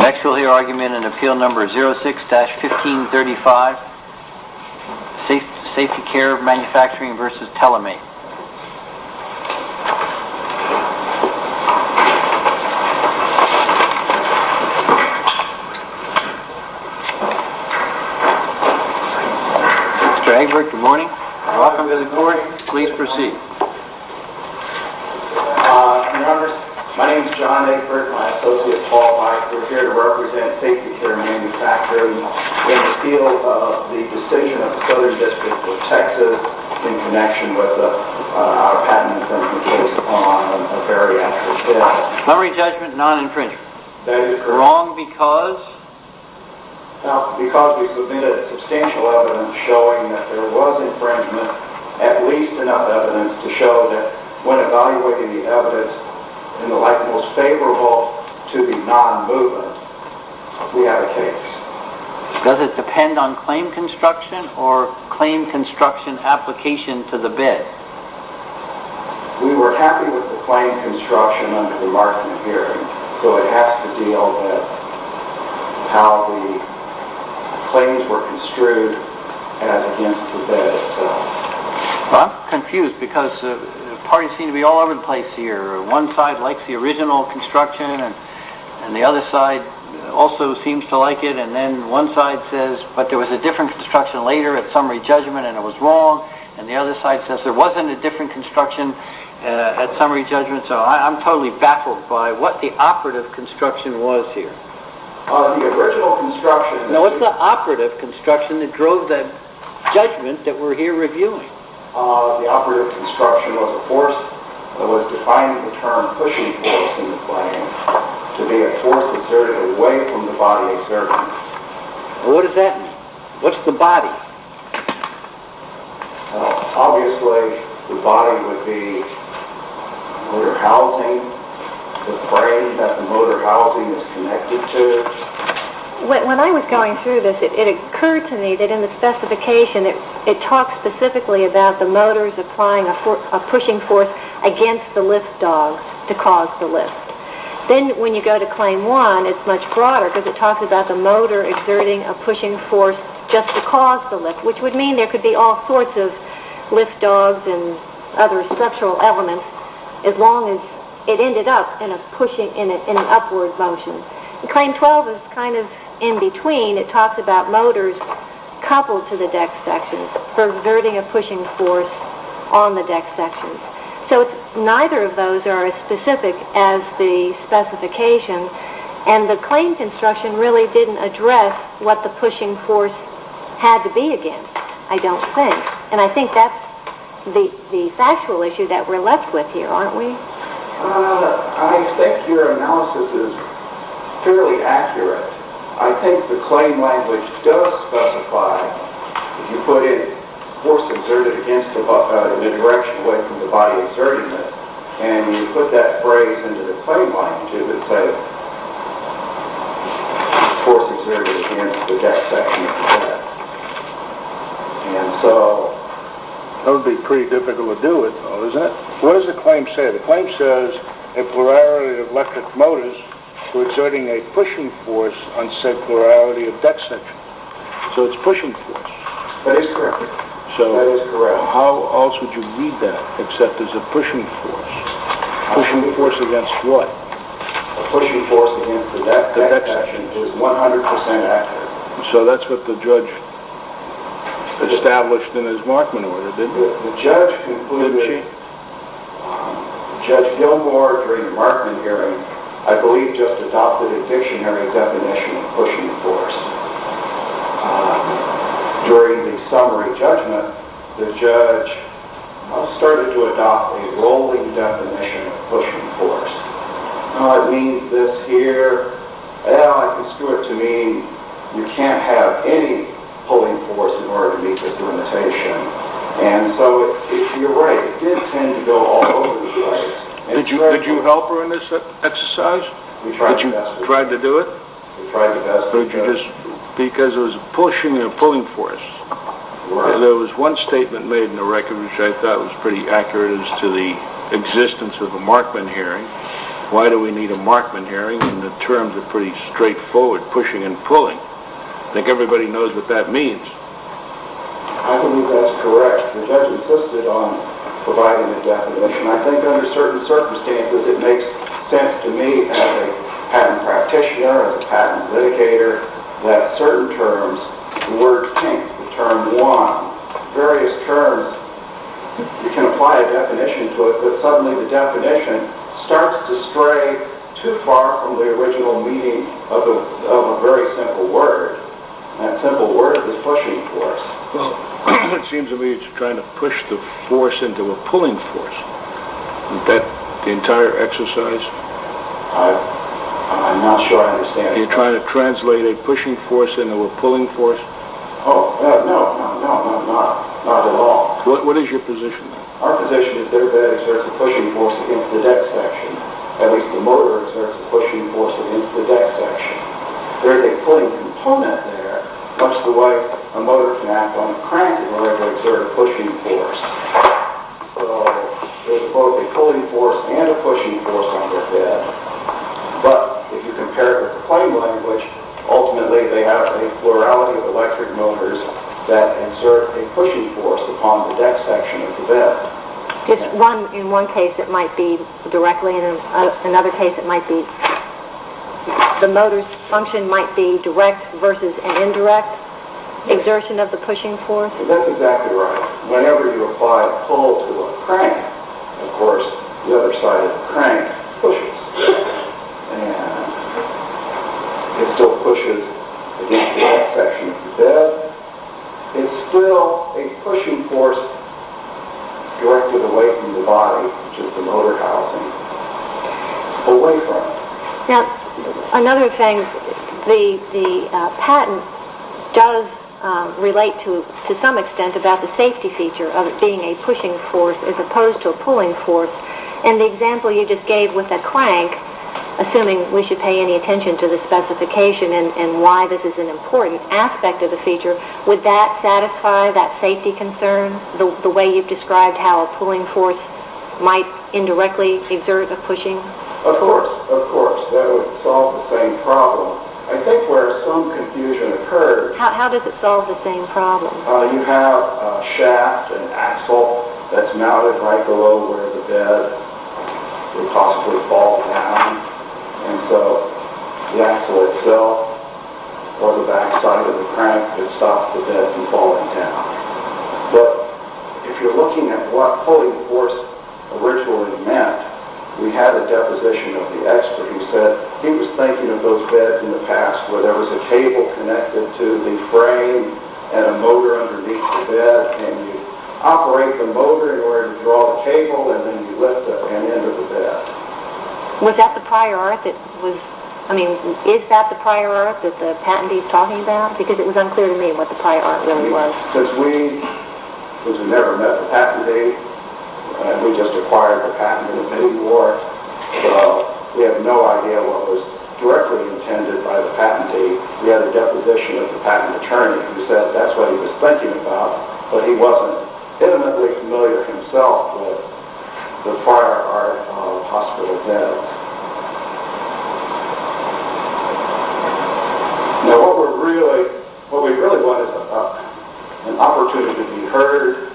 Next we'll hear argument in appeal number 06-1535, Safety Care MFG v. Tele-Made. Mr. Egbert, good morning. Welcome to the court. Please proceed. My name is John Egbert, my associate Paul Hart. We're here to represent Safety Care Manufacturing in the field of the decision of the Southern District of Texas in connection with our patent infringement case on a very actual case. Plenary judgment non-infringement. Wrong because? Because we submitted substantial evidence showing that there was infringement, at least enough evidence to show that when evaluating the evidence in the light most favorable to the non-movement, we have a case. Does it depend on claim construction or claim construction application to the bid? We were happy with the claim construction under the Markham hearing, so it has to deal with how the claims were construed as against the bid itself. I'm confused because parties seem to be all over the place here. One side likes the original construction and the other side also seems to like it, and then one side says, but there was a different construction later at summary judgment and it was wrong, and the other side says there wasn't a different construction at summary judgment, so I'm totally baffled by what the operative construction was here. Now what's the operative construction that drove the judgment that we're here reviewing? The operative construction was a force that was defining the term pushing force in the claim to be a force exerted away from the body exerted. What does that mean? What's the body? Obviously the body would be motor housing, the frame that the motor housing is connected to. When I was going through this, it occurred to me that in the specification it talks specifically about the motors applying a pushing force against the lift dogs to cause the lift. Then when you go to claim one, it's much broader because it talks about the motor exerting a pushing force just to cause the lift, which would mean there could be all sorts of lift dogs and other structural elements as long as it ended up in an upward function. Claim 12 is kind of in between. It talks about motors coupled to the deck sections for exerting a pushing force on the deck sections. Neither of those are as specific as the specification. The claim construction really didn't address what the pushing force had to be against, I don't think. I think that's the factual issue that we're left with here, aren't we? I think your analysis is fairly accurate. I think the claim language does specify, if you put in force exerted against a lift direction away from the body exerting it, and you put that phrase into the claim language, it would say force exerted against the deck section of the deck. That would be pretty difficult to do, though, isn't it? What does the claim say? The claim says a plurality of electric motors were exerting a pushing force on said plurality of deck sections. So it's pushing force. That is correct. So how else would you read that except as a pushing force? Pushing force against what? A pushing force against the deck sections is 100% accurate. So that's what the judge established in his Markman order, didn't he? The judge concluded, Judge Gilmour, during the Markman hearing, I believe just adopted a dictionary definition of pushing force. During the summary judgment, the judge started to adopt a rolling definition of pushing force. It means this here, and I don't like to screw it to mean you can't have any pulling force in order to meet this limitation. And so you're right, it did tend to go all over the place. Did you help her in this exercise? We tried our best. Did you try to do it? We tried our best. Because it was pushing and pulling force. There was one statement made in the record which I thought was pretty accurate as to the existence of a Markman hearing. Why do we need a Markman hearing when the terms are pretty straightforward, pushing and pulling? I think everybody knows what that means. I believe that's correct. The judge insisted on providing a definition. I think under certain circumstances it makes sense to me as a patent practitioner, as a patent litigator, that certain terms, the word think, the term one, various terms, you can apply a definition to it, but suddenly the definition starts to stray too far from the original meaning of a very simple word. That simple word is pushing force. Well, it seems to me that you're trying to push the force into a pulling force. Isn't that the entire exercise? I'm not sure I understand. Are you trying to translate a pushing force into a pulling force? No, not at all. What is your position? Our position is that there's a pushing force against the deck section. At least the motor exerts a pushing force against the deck section. There's a pulling component there, much the way a motor can act on a crank in order to exert a pushing force. So there's both a pulling force and a pushing force on the bed, but if you compare it with the plane language, ultimately they have a plurality of electric motors that exert a pushing force upon the deck section of the bed. In one case it might be directly, in another case it might be, the motor's function might be direct versus an indirect exertion of the pushing force? That's exactly right. Whenever you apply a pull to a crank, of course, the other side of the crank pushes, and it still pushes against the deck section of the bed. It's still a pushing force directed away from the body, which is the motor housing, away from it. Another thing, the patent does relate to some extent about the safety feature of it being a pushing force as opposed to a pulling force. In the example you just gave with that crank, assuming we should pay any attention to the specification and why this is an important aspect of the feature, would that satisfy that safety concern, the way you've described how a pulling force might indirectly exert a pushing force? Of course, of course. That would solve the same problem. I think where some confusion occurs... How does it solve the same problem? You have a shaft, an axle, that's mounted right below where the bed would possibly fall down, and so the axle itself, or the back side of the crank, could stop the bed from falling down. But if you're looking at what pulling force originally meant, we had a deposition of the expert who said he was thinking of those beds in the past where there was a cable connected to the frame and a motor underneath the bed, and you operate the motor in order to draw the cable, and then you lift up and into the bed. Is that the prior art that the patentee's talking about? Because it was unclear to me what the prior art really was. Since we never met the patentee, we just acquired the patent in a bidding war, so we have no idea what was directly intended by the patentee. We had a deposition of the patent attorney who said that's what he was thinking about, but he wasn't intimately familiar himself with the prior art of hospital beds. Now what we really want is an opportunity to be heard.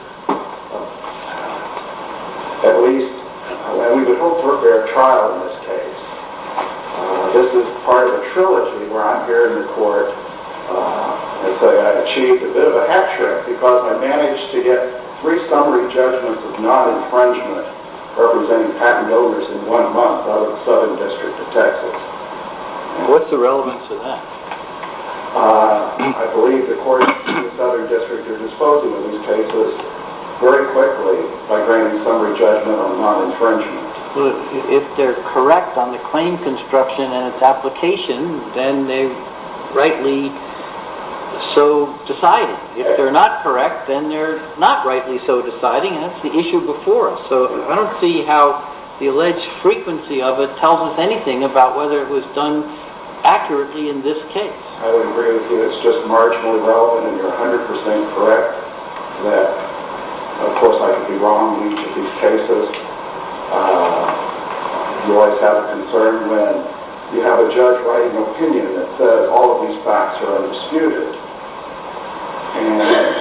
At least we would hope for a fair trial in this case. This is part of a trilogy where I'm here in the court. I achieved a bit of a hat trick because I managed to get three summary judgments of non-infringement representing patent owners in one month out of the Southern District of Texas. What's the relevance of that? I believe the courts in the Southern District are disposing of these cases very quickly by granting summary judgment on non-infringement. If they're correct on the claim construction and its application, then they're rightly so decided. If they're not correct, then they're not rightly so deciding, and that's the issue before us. So I don't see how the alleged frequency of it tells us anything about whether it was done accurately in this case. I would agree with you. It's just marginally relevant and you're 100% correct that of course I could be wrong in each of these cases. You always have a concern when you have a judge writing an opinion that says all of these facts are undisputed. And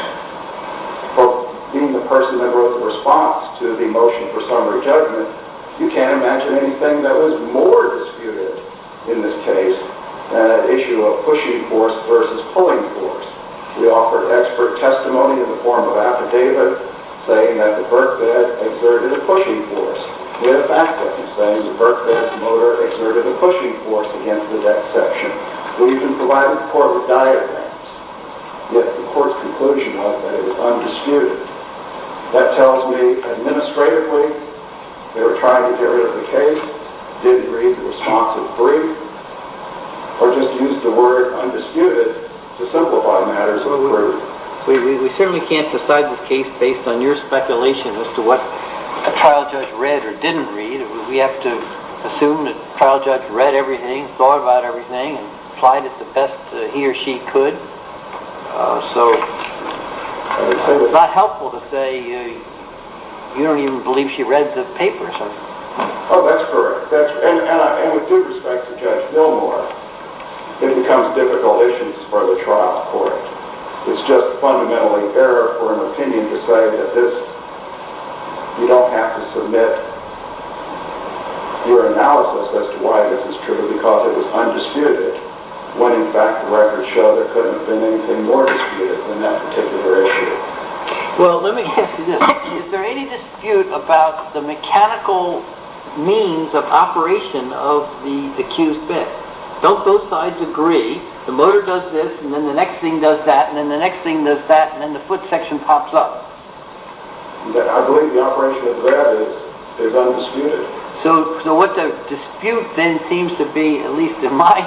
being the person that wrote the response to the motion for summary judgment, you can't imagine anything that was more disputed in this case than an issue of pushing force versus pulling force. We offered expert testimony in the form of affidavits saying that the Burke bed exerted a pushing force. We had a fact-check saying the Burke bed's motor exerted a pushing force against the deck section. We even provided the court with diagrams. Yet the court's conclusion was that it was undisputed. That tells me administratively they were trying to tear up the case, didn't read the responsive brief, or just used the word undisputed to simplify matters or improve them. We certainly can't decide the case based on your speculation as to what a trial judge read or didn't read. We have to assume that the trial judge read everything, thought about everything, and applied it the best he or she could. So it's not helpful to say you don't even believe she read the papers. Oh, that's correct. And with due respect to Judge Milmore, it becomes difficult issues for the trial court. It's just fundamentally error for an opinion to say that you don't have to submit your analysis as to why this is true because it was undisputed, when in fact the records show there couldn't have been anything more disputed than that particular issue. Well, let me ask you this. Is there any dispute about the mechanical means of operation of the cued bed? Don't both sides agree? The motor does this, and then the next thing does that, and then the next thing does that, and then the foot section pops up. I believe the operation of the bed is undisputed. So what the dispute then seems to be, at least in my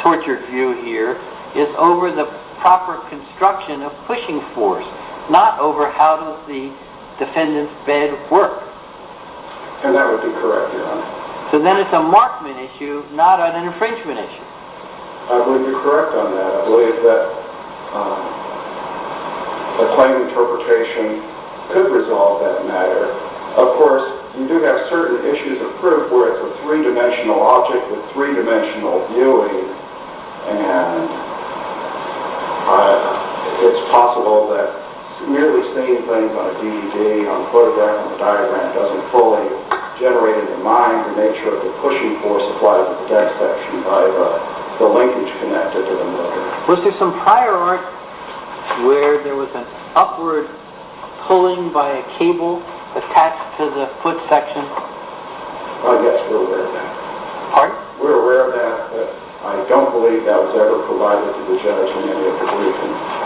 tortured view here, is over the proper construction of pushing force, not over how does the defendant's bed work. And that would be correct, Your Honor. So then it's a markman issue, not an infringement issue. I believe you're correct on that. I believe that a plain interpretation could resolve that matter. Of course, you do have certain issues of proof where it's a three-dimensional object with three-dimensional viewing, and it's possible that merely seeing things on a DVD, on a photograph, on a diagram, doesn't fully generate in the mind the nature of the pushing force applied to the bed section by the linkage connected to the motor. Was there some prior art where there was an upward pulling by a cable attached to the foot section? I guess we're aware of that. Pardon? We're aware of that, but I don't believe that was ever provided to the judge in any of the briefings.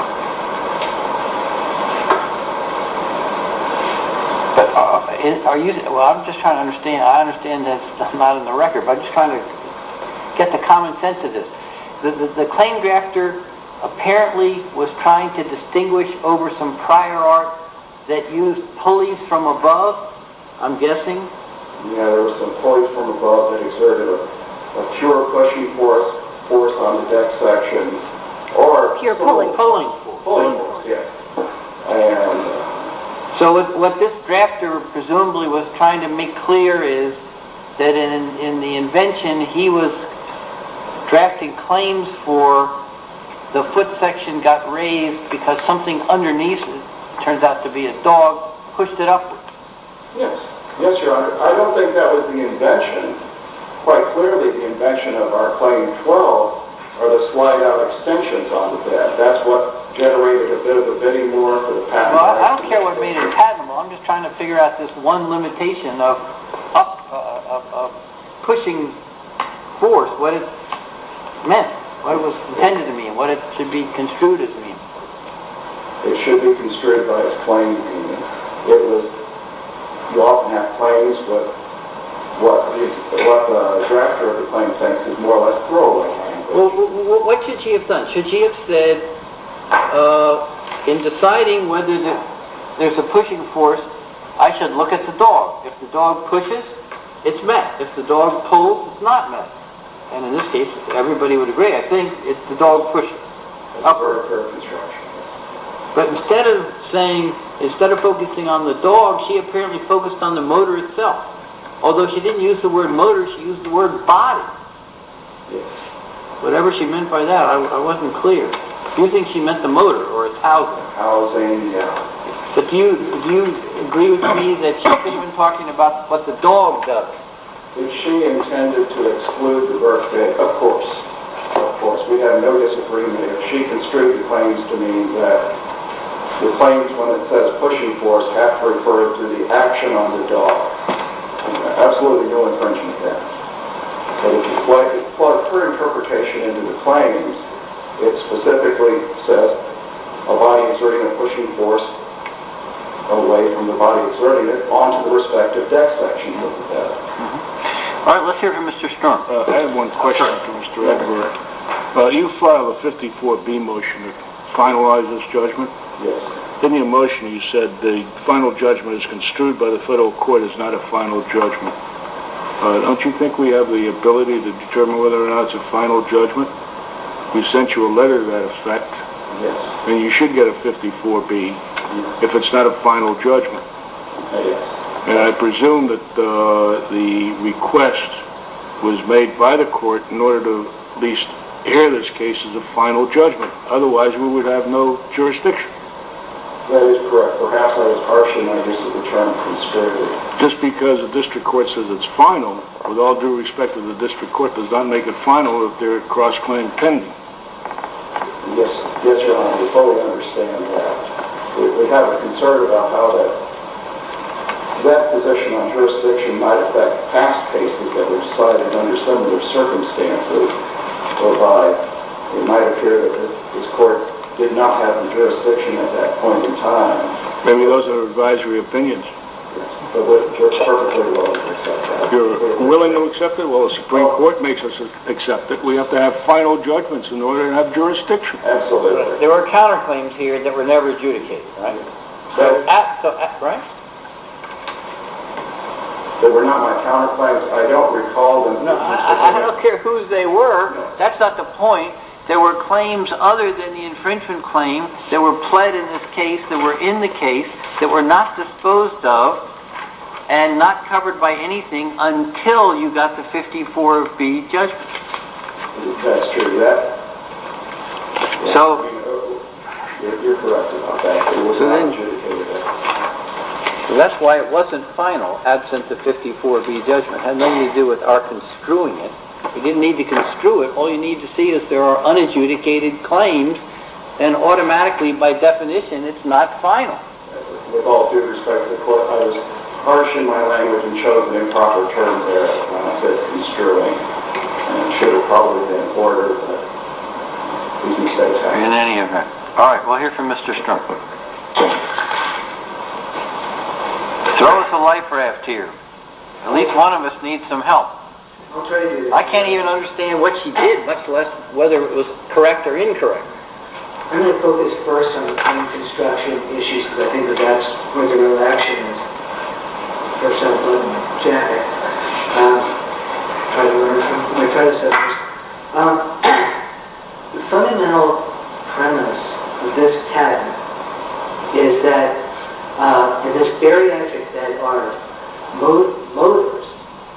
Well, I'm just trying to understand. I understand that's not in the record, but I'm just trying to get the common sense of this. The claim drafter apparently was trying to distinguish over some prior art that used pulleys from above, I'm guessing? Yeah, there were some pulleys from above that exerted a pure pushing force on the deck sections. Pure pulling. Pulling force, yes. So what this drafter presumably was trying to make clear is that in the invention, he was drafting claims for the foot section got raised because something underneath it, turns out to be a dog, pushed it upward. Yes, Your Honor. I don't think that was the invention. Quite clearly the invention of our Claim 12 are the slide-out extensions on the deck. That's what generated a bit of a bidding war for the patent. I don't care what made it patentable. I'm just trying to figure out this one limitation of pushing force, what it meant, what it was intended to mean, what it should be construed as meaning. It should be construed by its claim meaning. You often have claims, but what the drafter of the claim thinks is more or less throwaway. What should she have done? Should she have said, in deciding whether there's a pushing force, I should look at the dog. If the dog pushes, it's met. If the dog pulls, it's not met. And in this case, everybody would agree, I think it's the dog pushing. It's a vertical construction, yes. But instead of focusing on the dog, she apparently focused on the motor itself. Although she didn't use the word motor, she used the word body. Yes. Whatever she meant by that, I wasn't clear. Do you think she meant the motor or its housing? Housing, yes. But do you agree with me that she's even talking about what the dog does? If she intended to exclude the birthday, of course. Of course, we have no disagreement. She construed the claims to mean that the claims, when it says pushing force, have to refer to the action on the dog. Absolutely no infringement there. But if you plug her interpretation into the claims, it specifically says a body exerting a pushing force away from the body exerting it onto the respective deck sections of the bed. All right, let's hear from Mr. Strong. I have one question for Mr. Edwards. You filed a 54-B motion to finalize this judgment. In your motion you said the final judgment is construed by the federal court as not a final judgment. Don't you think we have the ability to determine whether or not it's a final judgment? We sent you a letter to that effect. You should get a 54-B if it's not a final judgment. I presume that the request was made by the court in order to at least air this case as a final judgment. Otherwise, we would have no jurisdiction. That is correct. Perhaps that is partially my misinterpretation. Just because the district court says it's final, with all due respect to the district court, does not make it final if they're cross-claim pending. Yes, Your Honor, we fully understand that. We have a concern about how that position on jurisdiction might affect past cases that were decided under similar circumstances. It might appear that this court did not have jurisdiction at that point in time. Maybe those are advisory opinions. Yes, but we're perfectly willing to accept that. You're willing to accept it? Well, the Supreme Court makes us accept it. We have to have final judgments in order to have jurisdiction. Absolutely. There were counterclaims here that were never adjudicated, right? There were not my counterclaims. I don't recall them. I don't care whose they were. That's not the point. There were claims other than the infringement claim that were pled in this case, that were in the case, that were not disposed of and not covered by anything until you got the 54-B judgment. That's true. You're correct about that. It wasn't adjudicated. That's why it wasn't final, absent the 54-B judgment. It had nothing to do with our construing it. You didn't need to construe it. All you need to see is there are unadjudicated claims and automatically, by definition, it's not final. With all due respect to the court, I was harsh in my language and chose an improper term there when I said construing. It should have probably been ordered. In any event. All right, we'll hear from Mr. Strunkwick. Throw us a life raft here. At least one of us needs some help. I can't even understand what she did, much less whether it was correct or incorrect. I'm going to focus first on the claim construction issues because I think the best point of action is, first of all, Jack, I'm going to try this out first. The fundamental premise of this pattern is that in this bariatric bed art, motors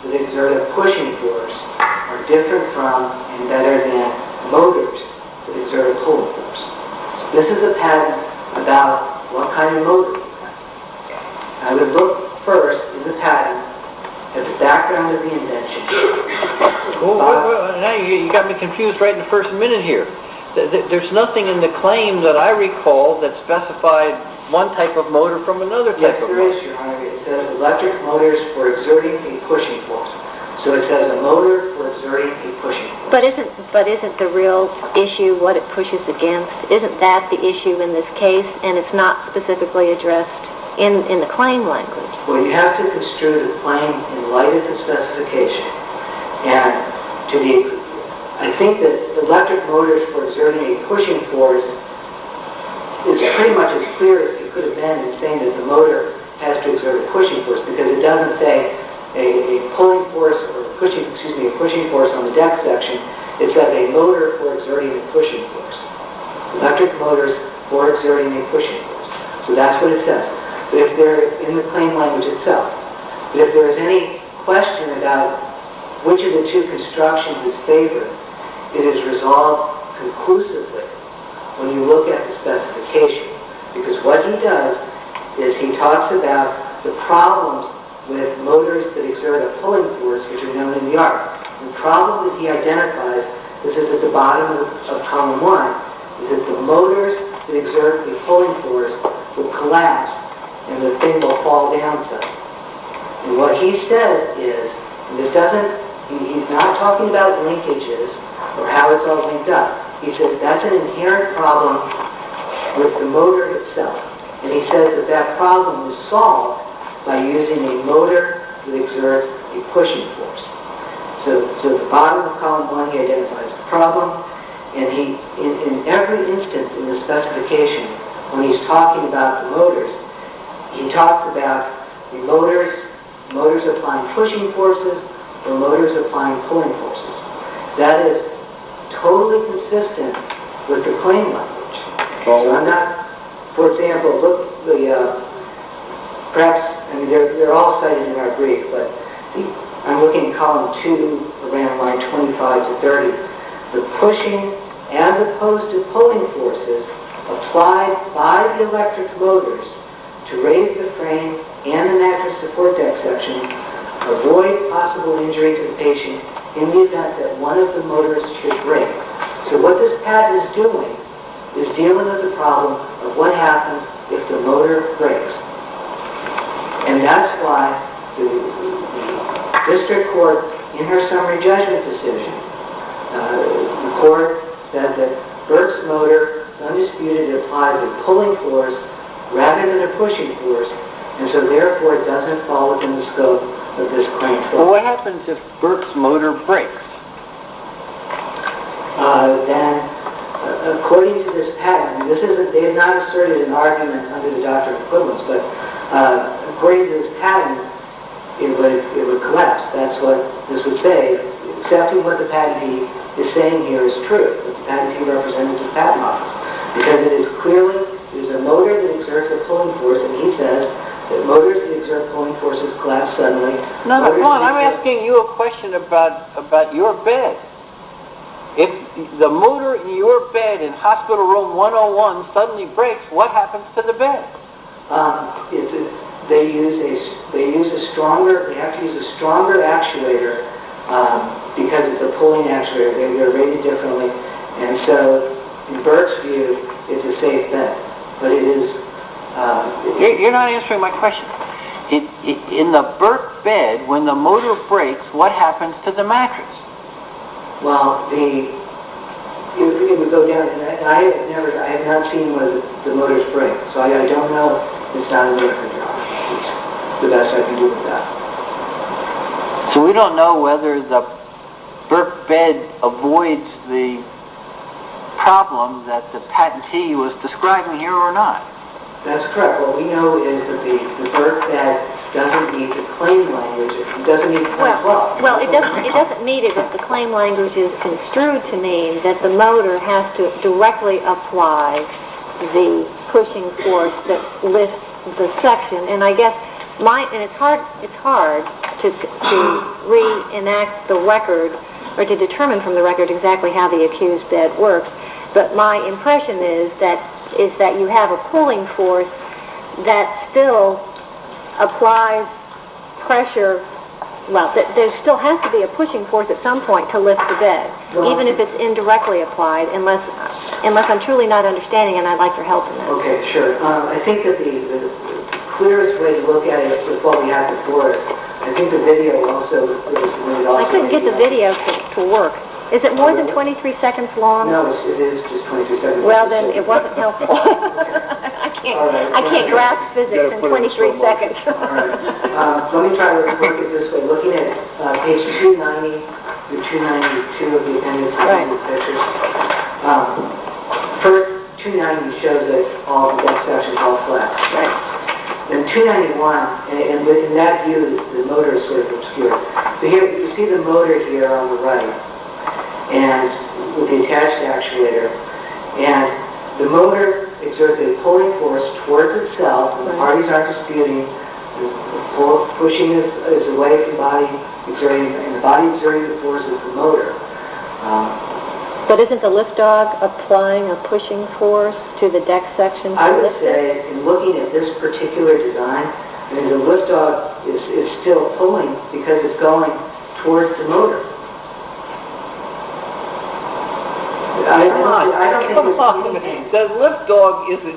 that exert a pushing force are different from and better than motors that exert a pulling force. This is a pattern about what kind of motor you have. I would look first in the pattern at the background of the invention. You got me confused right in the first minute here. There's nothing in the claim that I recall that specified one type of motor from another type of motor. Yes, there is, Your Honor. It says electric motors for exerting a pushing force. So it says a motor for exerting a pushing force. But isn't the real issue what it pushes against, isn't that the issue in this case, and it's not specifically addressed in the claim language? Well, you have to construe the claim in light of the specification. I think that electric motors for exerting a pushing force is pretty much as clear as it could have been in saying that the motor has to exert a pushing force because it doesn't say a pushing force on the deck section. It says a motor for exerting a pushing force. Electric motors for exerting a pushing force. So that's what it says in the claim language itself. If there is any question about which of the two constructions is favored, it is resolved conclusively when you look at the specification because what he does is he talks about the problems with motors that exert a pulling force which are known in the art. The problem that he identifies, this is at the bottom of column one, is that the motors that exert a pulling force will collapse and the thing will fall down suddenly. And what he says is, and he's not talking about linkages or how it's all linked up, he says that's an inherent problem with the motor itself. And he says that that problem is solved by using a motor that exerts a pushing force. So at the bottom of column one he identifies the problem and in every instance in the specification when he's talking about the motors, he talks about the motors applying pushing forces, the motors applying pulling forces. That is totally consistent with the claim language. So I'm not, for example, perhaps they're all cited in our brief, but I'm looking at column two, around line 25 to 30. The pushing as opposed to pulling forces applied by the electric motors to raise the frame and the mattress support deck sections avoid possible injury to the patient in the event that one of the motors should break. So what this patent is doing is dealing with the problem of what happens if the motor breaks. And that's why the district court, in her summary judgment decision, the court said that Burke's motor is undisputed. It applies a pulling force rather than a pushing force and so therefore it doesn't fall within the scope of this claim. But what happens if Burke's motor breaks? According to this patent, they have not asserted an argument under the doctrine of equivalence, but according to this patent it would collapse. That's what this would say. Except what the patentee is saying here is true. The patentee represented the patent office. Because it is clearly, there's a motor that exerts a pulling force and he says that motors that exert pulling forces collapse suddenly. I'm asking you a question about your bed. If the motor in your bed in hospital room 101 suddenly breaks, what happens to the bed? They use a stronger, they have to use a stronger actuator because it's a pulling actuator. They're rated differently. And so, in Burke's view, it's a safe bed. You're not answering my question. In the Burke bed, when the motor breaks, what happens to the mattress? I have not seen when the motors break. So I don't know. It's not a different job. It's the best I can do with that. So we don't know whether the Burke bed avoids the problem that the patentee was describing here or not. That's correct. What we know is that the Burke bed doesn't meet the claim language. It doesn't meet the claim as well. It doesn't meet it, but the claim language is construed to mean that the motor has to directly apply the pushing force that lifts the section. And I guess, it's hard to reenact the record or to determine from the record exactly how the accused bed works, but my impression is that you have a pulling force that still applies pressure. Well, there still has to be a pushing force at some point to lift the bed, even if it's indirectly applied, unless I'm truly not understanding, and I'd like your help in that. Okay, sure. I think that the clearest way to look at it with what we have before us, I think the video also... I couldn't get the video to work. Is it more than 23 seconds long? No, it is just 23 seconds. Well, then it wasn't helpful. I can't grasp physics in 23 seconds. Let me try to work it this way. If you're looking at page 290 or 292 of the appendices and pictures, first, 290 shows that all the bed sections are flat. Then 291, and within that view, the motor is sort of obscured. You see the motor here on the right with the attached actuator, and the motor exerts a pulling force towards itself and the parties aren't disputing. The pushing is away from the body, and the body is exerting the force of the motor. But isn't the lift-dog applying a pushing force to the deck section? I would say, in looking at this particular design, the lift-dog is still pulling because it's going towards the motor. Never mind. The lift-dog isn't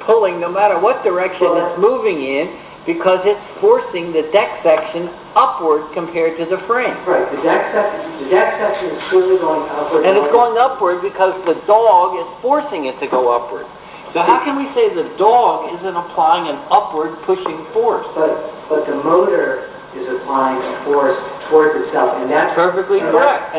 pulling no matter what direction it's moving in because it's forcing the deck section upward compared to the frame. Right, the deck section is clearly going upward. And it's going upward because the dog is forcing it to go upward. So how can we say the dog isn't applying an upward pushing force? But the motor is applying a force towards itself. That's perfectly correct.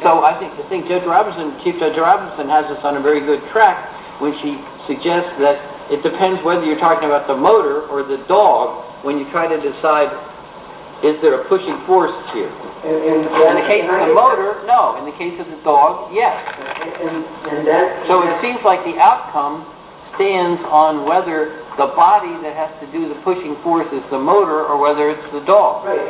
So I think Chief Judge Robinson has us on a very good track when she suggests that it depends whether you're talking about the motor or the dog when you try to decide, is there a pushing force here? In the case of the motor, no. In the case of the dog, yes. So it seems like the outcome stands on whether the body that has to do the pushing force is the motor or whether it's the dog. But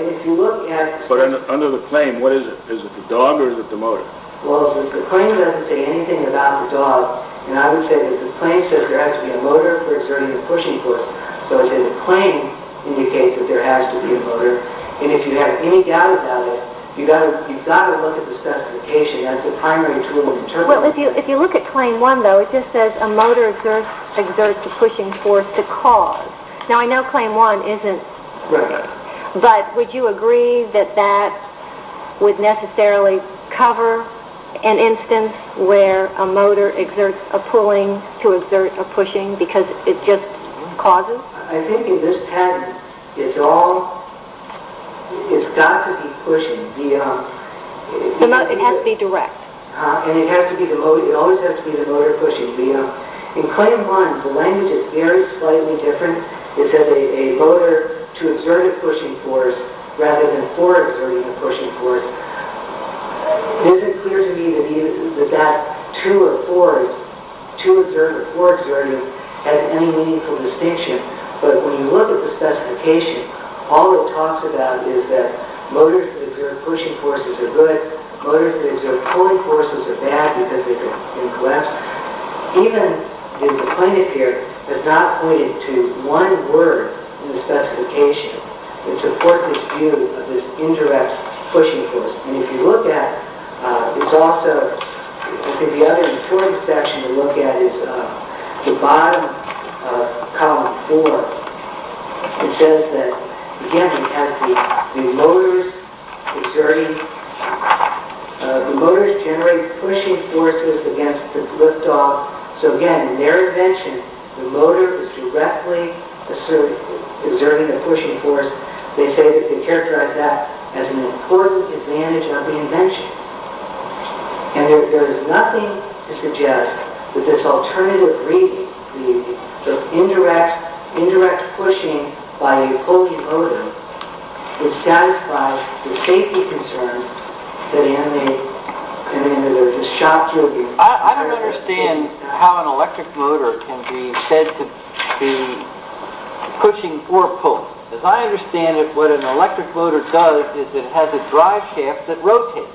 under the claim, what is it? Is it the dog or is it the motor? Well, the claim doesn't say anything about the dog. And I would say that the claim says there has to be a motor for exerting the pushing force. So I'd say the claim indicates that there has to be a motor. And if you have any doubt about it, you've got to look at the specification as the primary tool of determination. Well, if you look at Claim 1, though, it just says a motor exerts a pushing force to cause. Now, I know Claim 1 isn't. Right. But would you agree that that would necessarily cover an instance where a motor exerts a pulling to exert a pushing because it just causes? I think in this pattern, it's got to be pushing. It has to be direct. And it always has to be the motor pushing. In Claim 1, the language is very slightly different. It says a motor to exert a pushing force rather than for exerting a pushing force. It isn't clear to me that that to or for is, to exert or for exerting, has any meaningful distinction. But when you look at the specification, all it talks about is that motors that exert pushing forces are good, motors that exert pulling forces are bad because they can collapse. Even the point here is not pointed to one word in the specification. It supports its view of this indirect pushing force. And if you look at, it's also, I think the other important section to look at is the bottom of column 4. It says that, again, it has the motors exerting, the motors generate pushing forces against the lift-off. So again, in their invention, the motor is directly exerting a pushing force. They say that they characterize that as an important advantage of the invention. And there is nothing to suggest that this alternative reading, the indirect pushing by a pulling motor, would satisfy the safety concerns that Anne made in the end of the Schottky review. I don't understand how an electric motor can be said to be pushing or pulling. As I understand it, what an electric motor does is it has a drive shaft that rotates.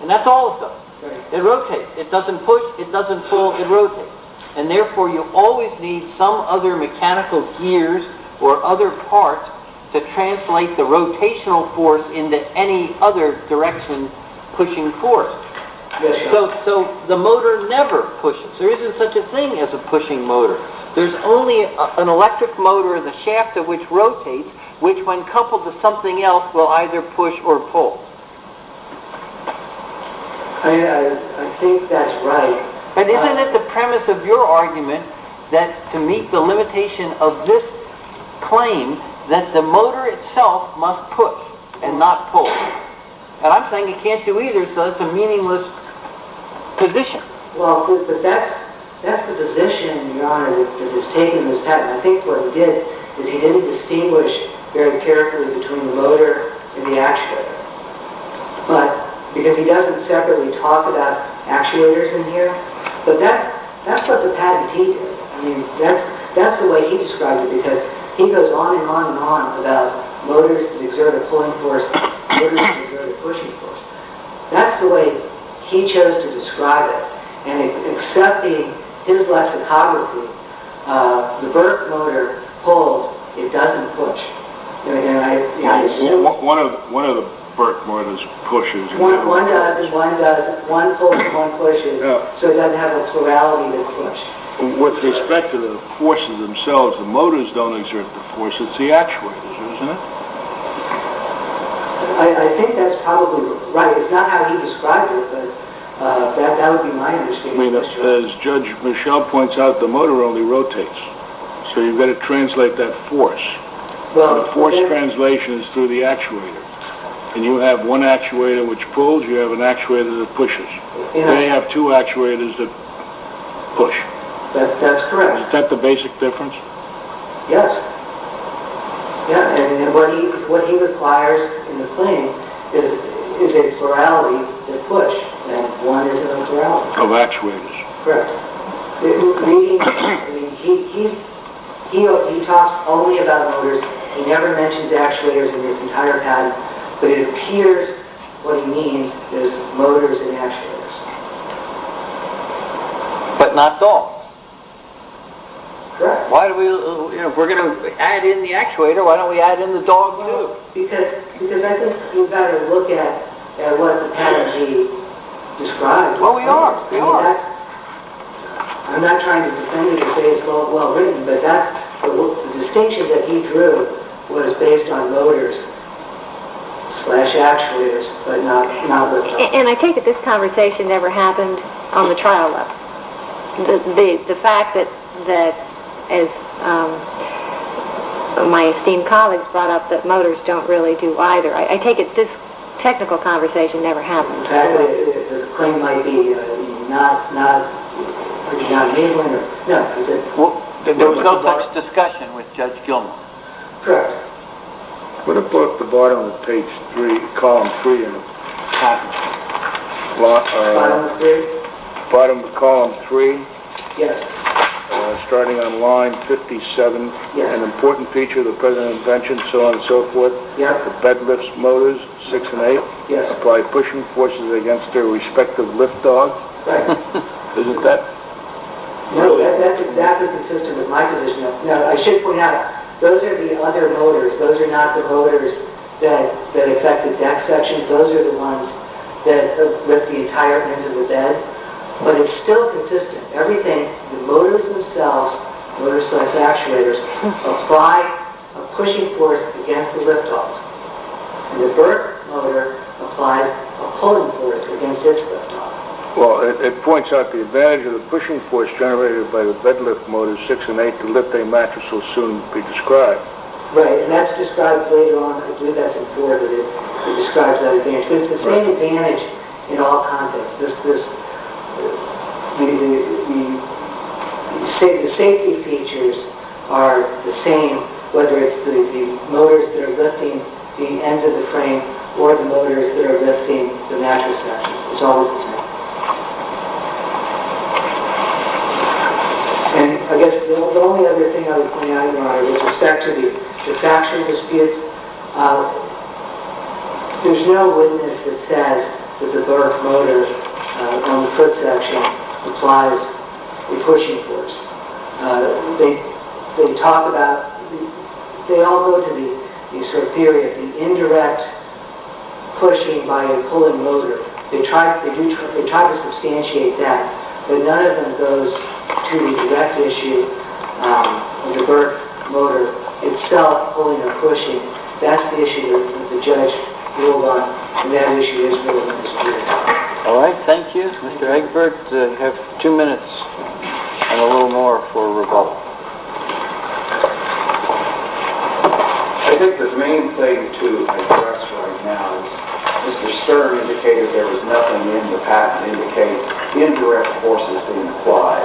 And that's all of them. It rotates. It doesn't push, it doesn't pull, it rotates. And therefore, you always need some other mechanical gears or other parts to translate the rotational force into any other direction pushing force. So the motor never pushes. There isn't such a thing as a pushing motor. There's only an electric motor, the shaft of which rotates, which when coupled to something else will either push or pull. I think that's right. But isn't it the premise of your argument that to meet the limitation of this claim, that the motor itself must push and not pull. And I'm saying it can't do either, so it's a meaningless position. Well, but that's the position, your honor, that is taken in this patent. I think what he did is he didn't distinguish very carefully between the motor and the actuator. But because he doesn't separately talk about actuators in here, but that's what the patentee did. That's the way he described it because he goes on and on and on about motors that exert a pulling force, motors that exert a pushing force. That's the way he chose to describe it. And accepting his lexicography, the Burke motor pulls, it doesn't push. One of the Burke motors pushes. One does and one does, one pulls and one pushes, so it doesn't have a plurality that push. With respect to the forces themselves, the motors don't exert the force, it's the actuators, isn't it? I think that's probably right. It's not how he described it, but that would be my understanding. As Judge Michel points out, the motor only rotates. So you've got to translate that force. The force translation is through the actuator. And you have one actuator which pulls, you have an actuator that pushes. They have two actuators that push. That's correct. Is that the basic difference? Yes. And what he requires in the claim is a plurality that push, and one is a plurality. Of actuators. Correct. He talks only about motors, he never mentions actuators in this entire pattern, but it appears what he means is motors and actuators. But not dogs. Correct. If we're going to add in the actuator, why don't we add in the dog, too? Because I think you've got to look at what the pattern he described. Well, we are, we are. I'm not trying to defend it or say it's well written, but that's the distinction that he drew was based on motors slash actuators, but not with dogs. And I take it this conversation never happened on the trial level. The fact that, as my esteemed colleagues brought up, that motors don't really do either. I take it this technical conversation never happened. In fact, the claim might be not handling or, no. There was no such discussion with Judge Gilman. Correct. What about the bottom of page three, column three? Bottom of three? Bottom of column three? Yes. Starting on line 57, an important feature of the president's invention, so on and so forth, the bed lifts motors six and eight, apply pushing forces against their respective lift dogs. Isn't that brilliant? That's exactly consistent with my position. Now, I should point out, those are the other motors. Those are not the motors that affect the deck sections. Those are the ones that lift the entire ends of the bed. But it's still consistent. Everything, the motors themselves, motors slash actuators, apply a pushing force against the lift dogs. The Burke motor applies a pulling force against its lift dog. Well, it points out the advantage of the pushing force generated by the bed lift motors six and eight to lift a mattress will soon be described. Right, and that's described later on. I believe that's important that it describes that advantage. But it's the same advantage in all contexts. The safety features are the same, whether it's the motors that are lifting the ends of the frame or the motors that are lifting the mattress sections. It's always the same. And I guess the only other thing I would point out in regard with respect to the factual disputes, there's no witness that says that the Burke motor on the foot section applies a pushing force. They talk about, they all go to the sort of theory that the indirect pushing by a pulling motor, they try to substantiate that. But none of them goes to the direct issue of the Burke motor itself pulling or pushing. That's the issue that the judge ruled on. And that issue is ruled in this case. All right, thank you. Mr. Egbert, you have two minutes and a little more for rebuttal. I think the main thing to address right now is Mr. Stern indicated there was nothing in the patent indicating indirect forces being applied.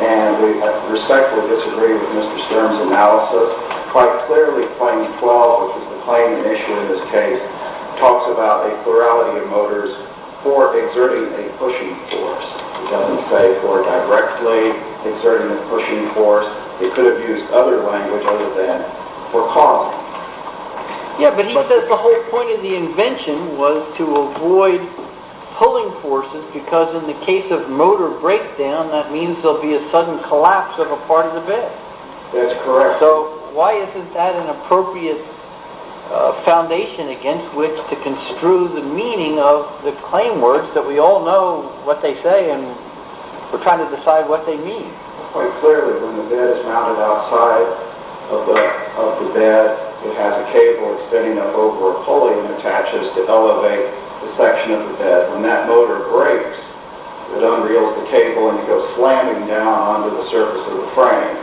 And we respectfully disagree with Mr. Stern's analysis. Quite clearly, claim 12, which is the claim in issue in this case, talks about a plurality of motors for exerting a pushing force. He doesn't say for directly exerting a pushing force. He could have used other language other than for causing. Yeah, but he says the whole point of the invention was to avoid pulling forces because in the case of motor breakdown, that means there'll be a sudden collapse of a part of the bed. That's correct. So why isn't that an appropriate foundation against which to construe the meaning of the claim words is that we all know what they say, and we're trying to decide what they mean. Quite clearly, when the bed is mounted outside of the bed, it has a cable extending up over a pulley and attaches to elevate the section of the bed. When that motor breaks, it unrails the cable and it goes slamming down onto the surface of the frame.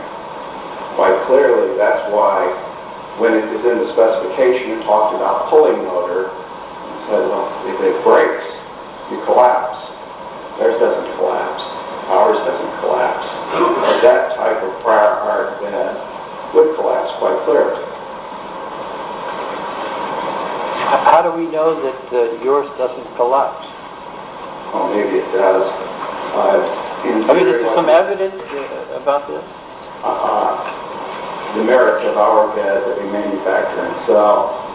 Quite clearly, that's why when it was in the specification, it talked about pulling motor and said, well, if it breaks, you collapse. Theirs doesn't collapse. Ours doesn't collapse. That type of prior part of the bed would collapse quite clearly. How do we know that yours doesn't collapse? Well, maybe it does. I mean, is there some evidence about this? The merits of our bed that we manufacture and sell,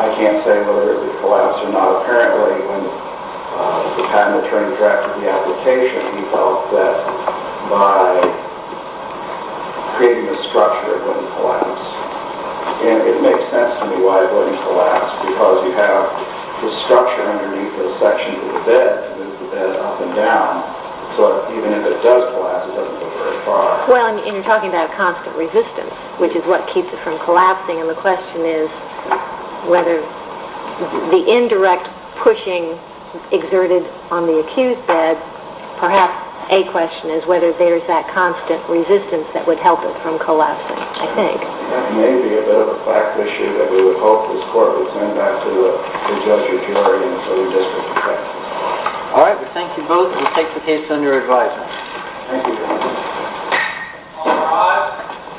I can't say whether it would collapse or not. Apparently, when the patent attorney drafted the application, he felt that by creating the structure, it wouldn't collapse. And it makes sense to me why it wouldn't collapse because you have the structure underneath those sections of the bed to move the bed up and down. So even if it does collapse, it doesn't go very far. Well, and you're talking about constant resistance, which is what keeps it from collapsing. And the question is whether the indirect pushing exerted on the accused bed, perhaps a question is whether there's that constant resistance that would help it from collapsing, I think. That may be a bit of a fact issue that we would hope this court would send back to the judge or jury in some district of Texas. All right, we thank you both. We take the case under advisement. Thank you.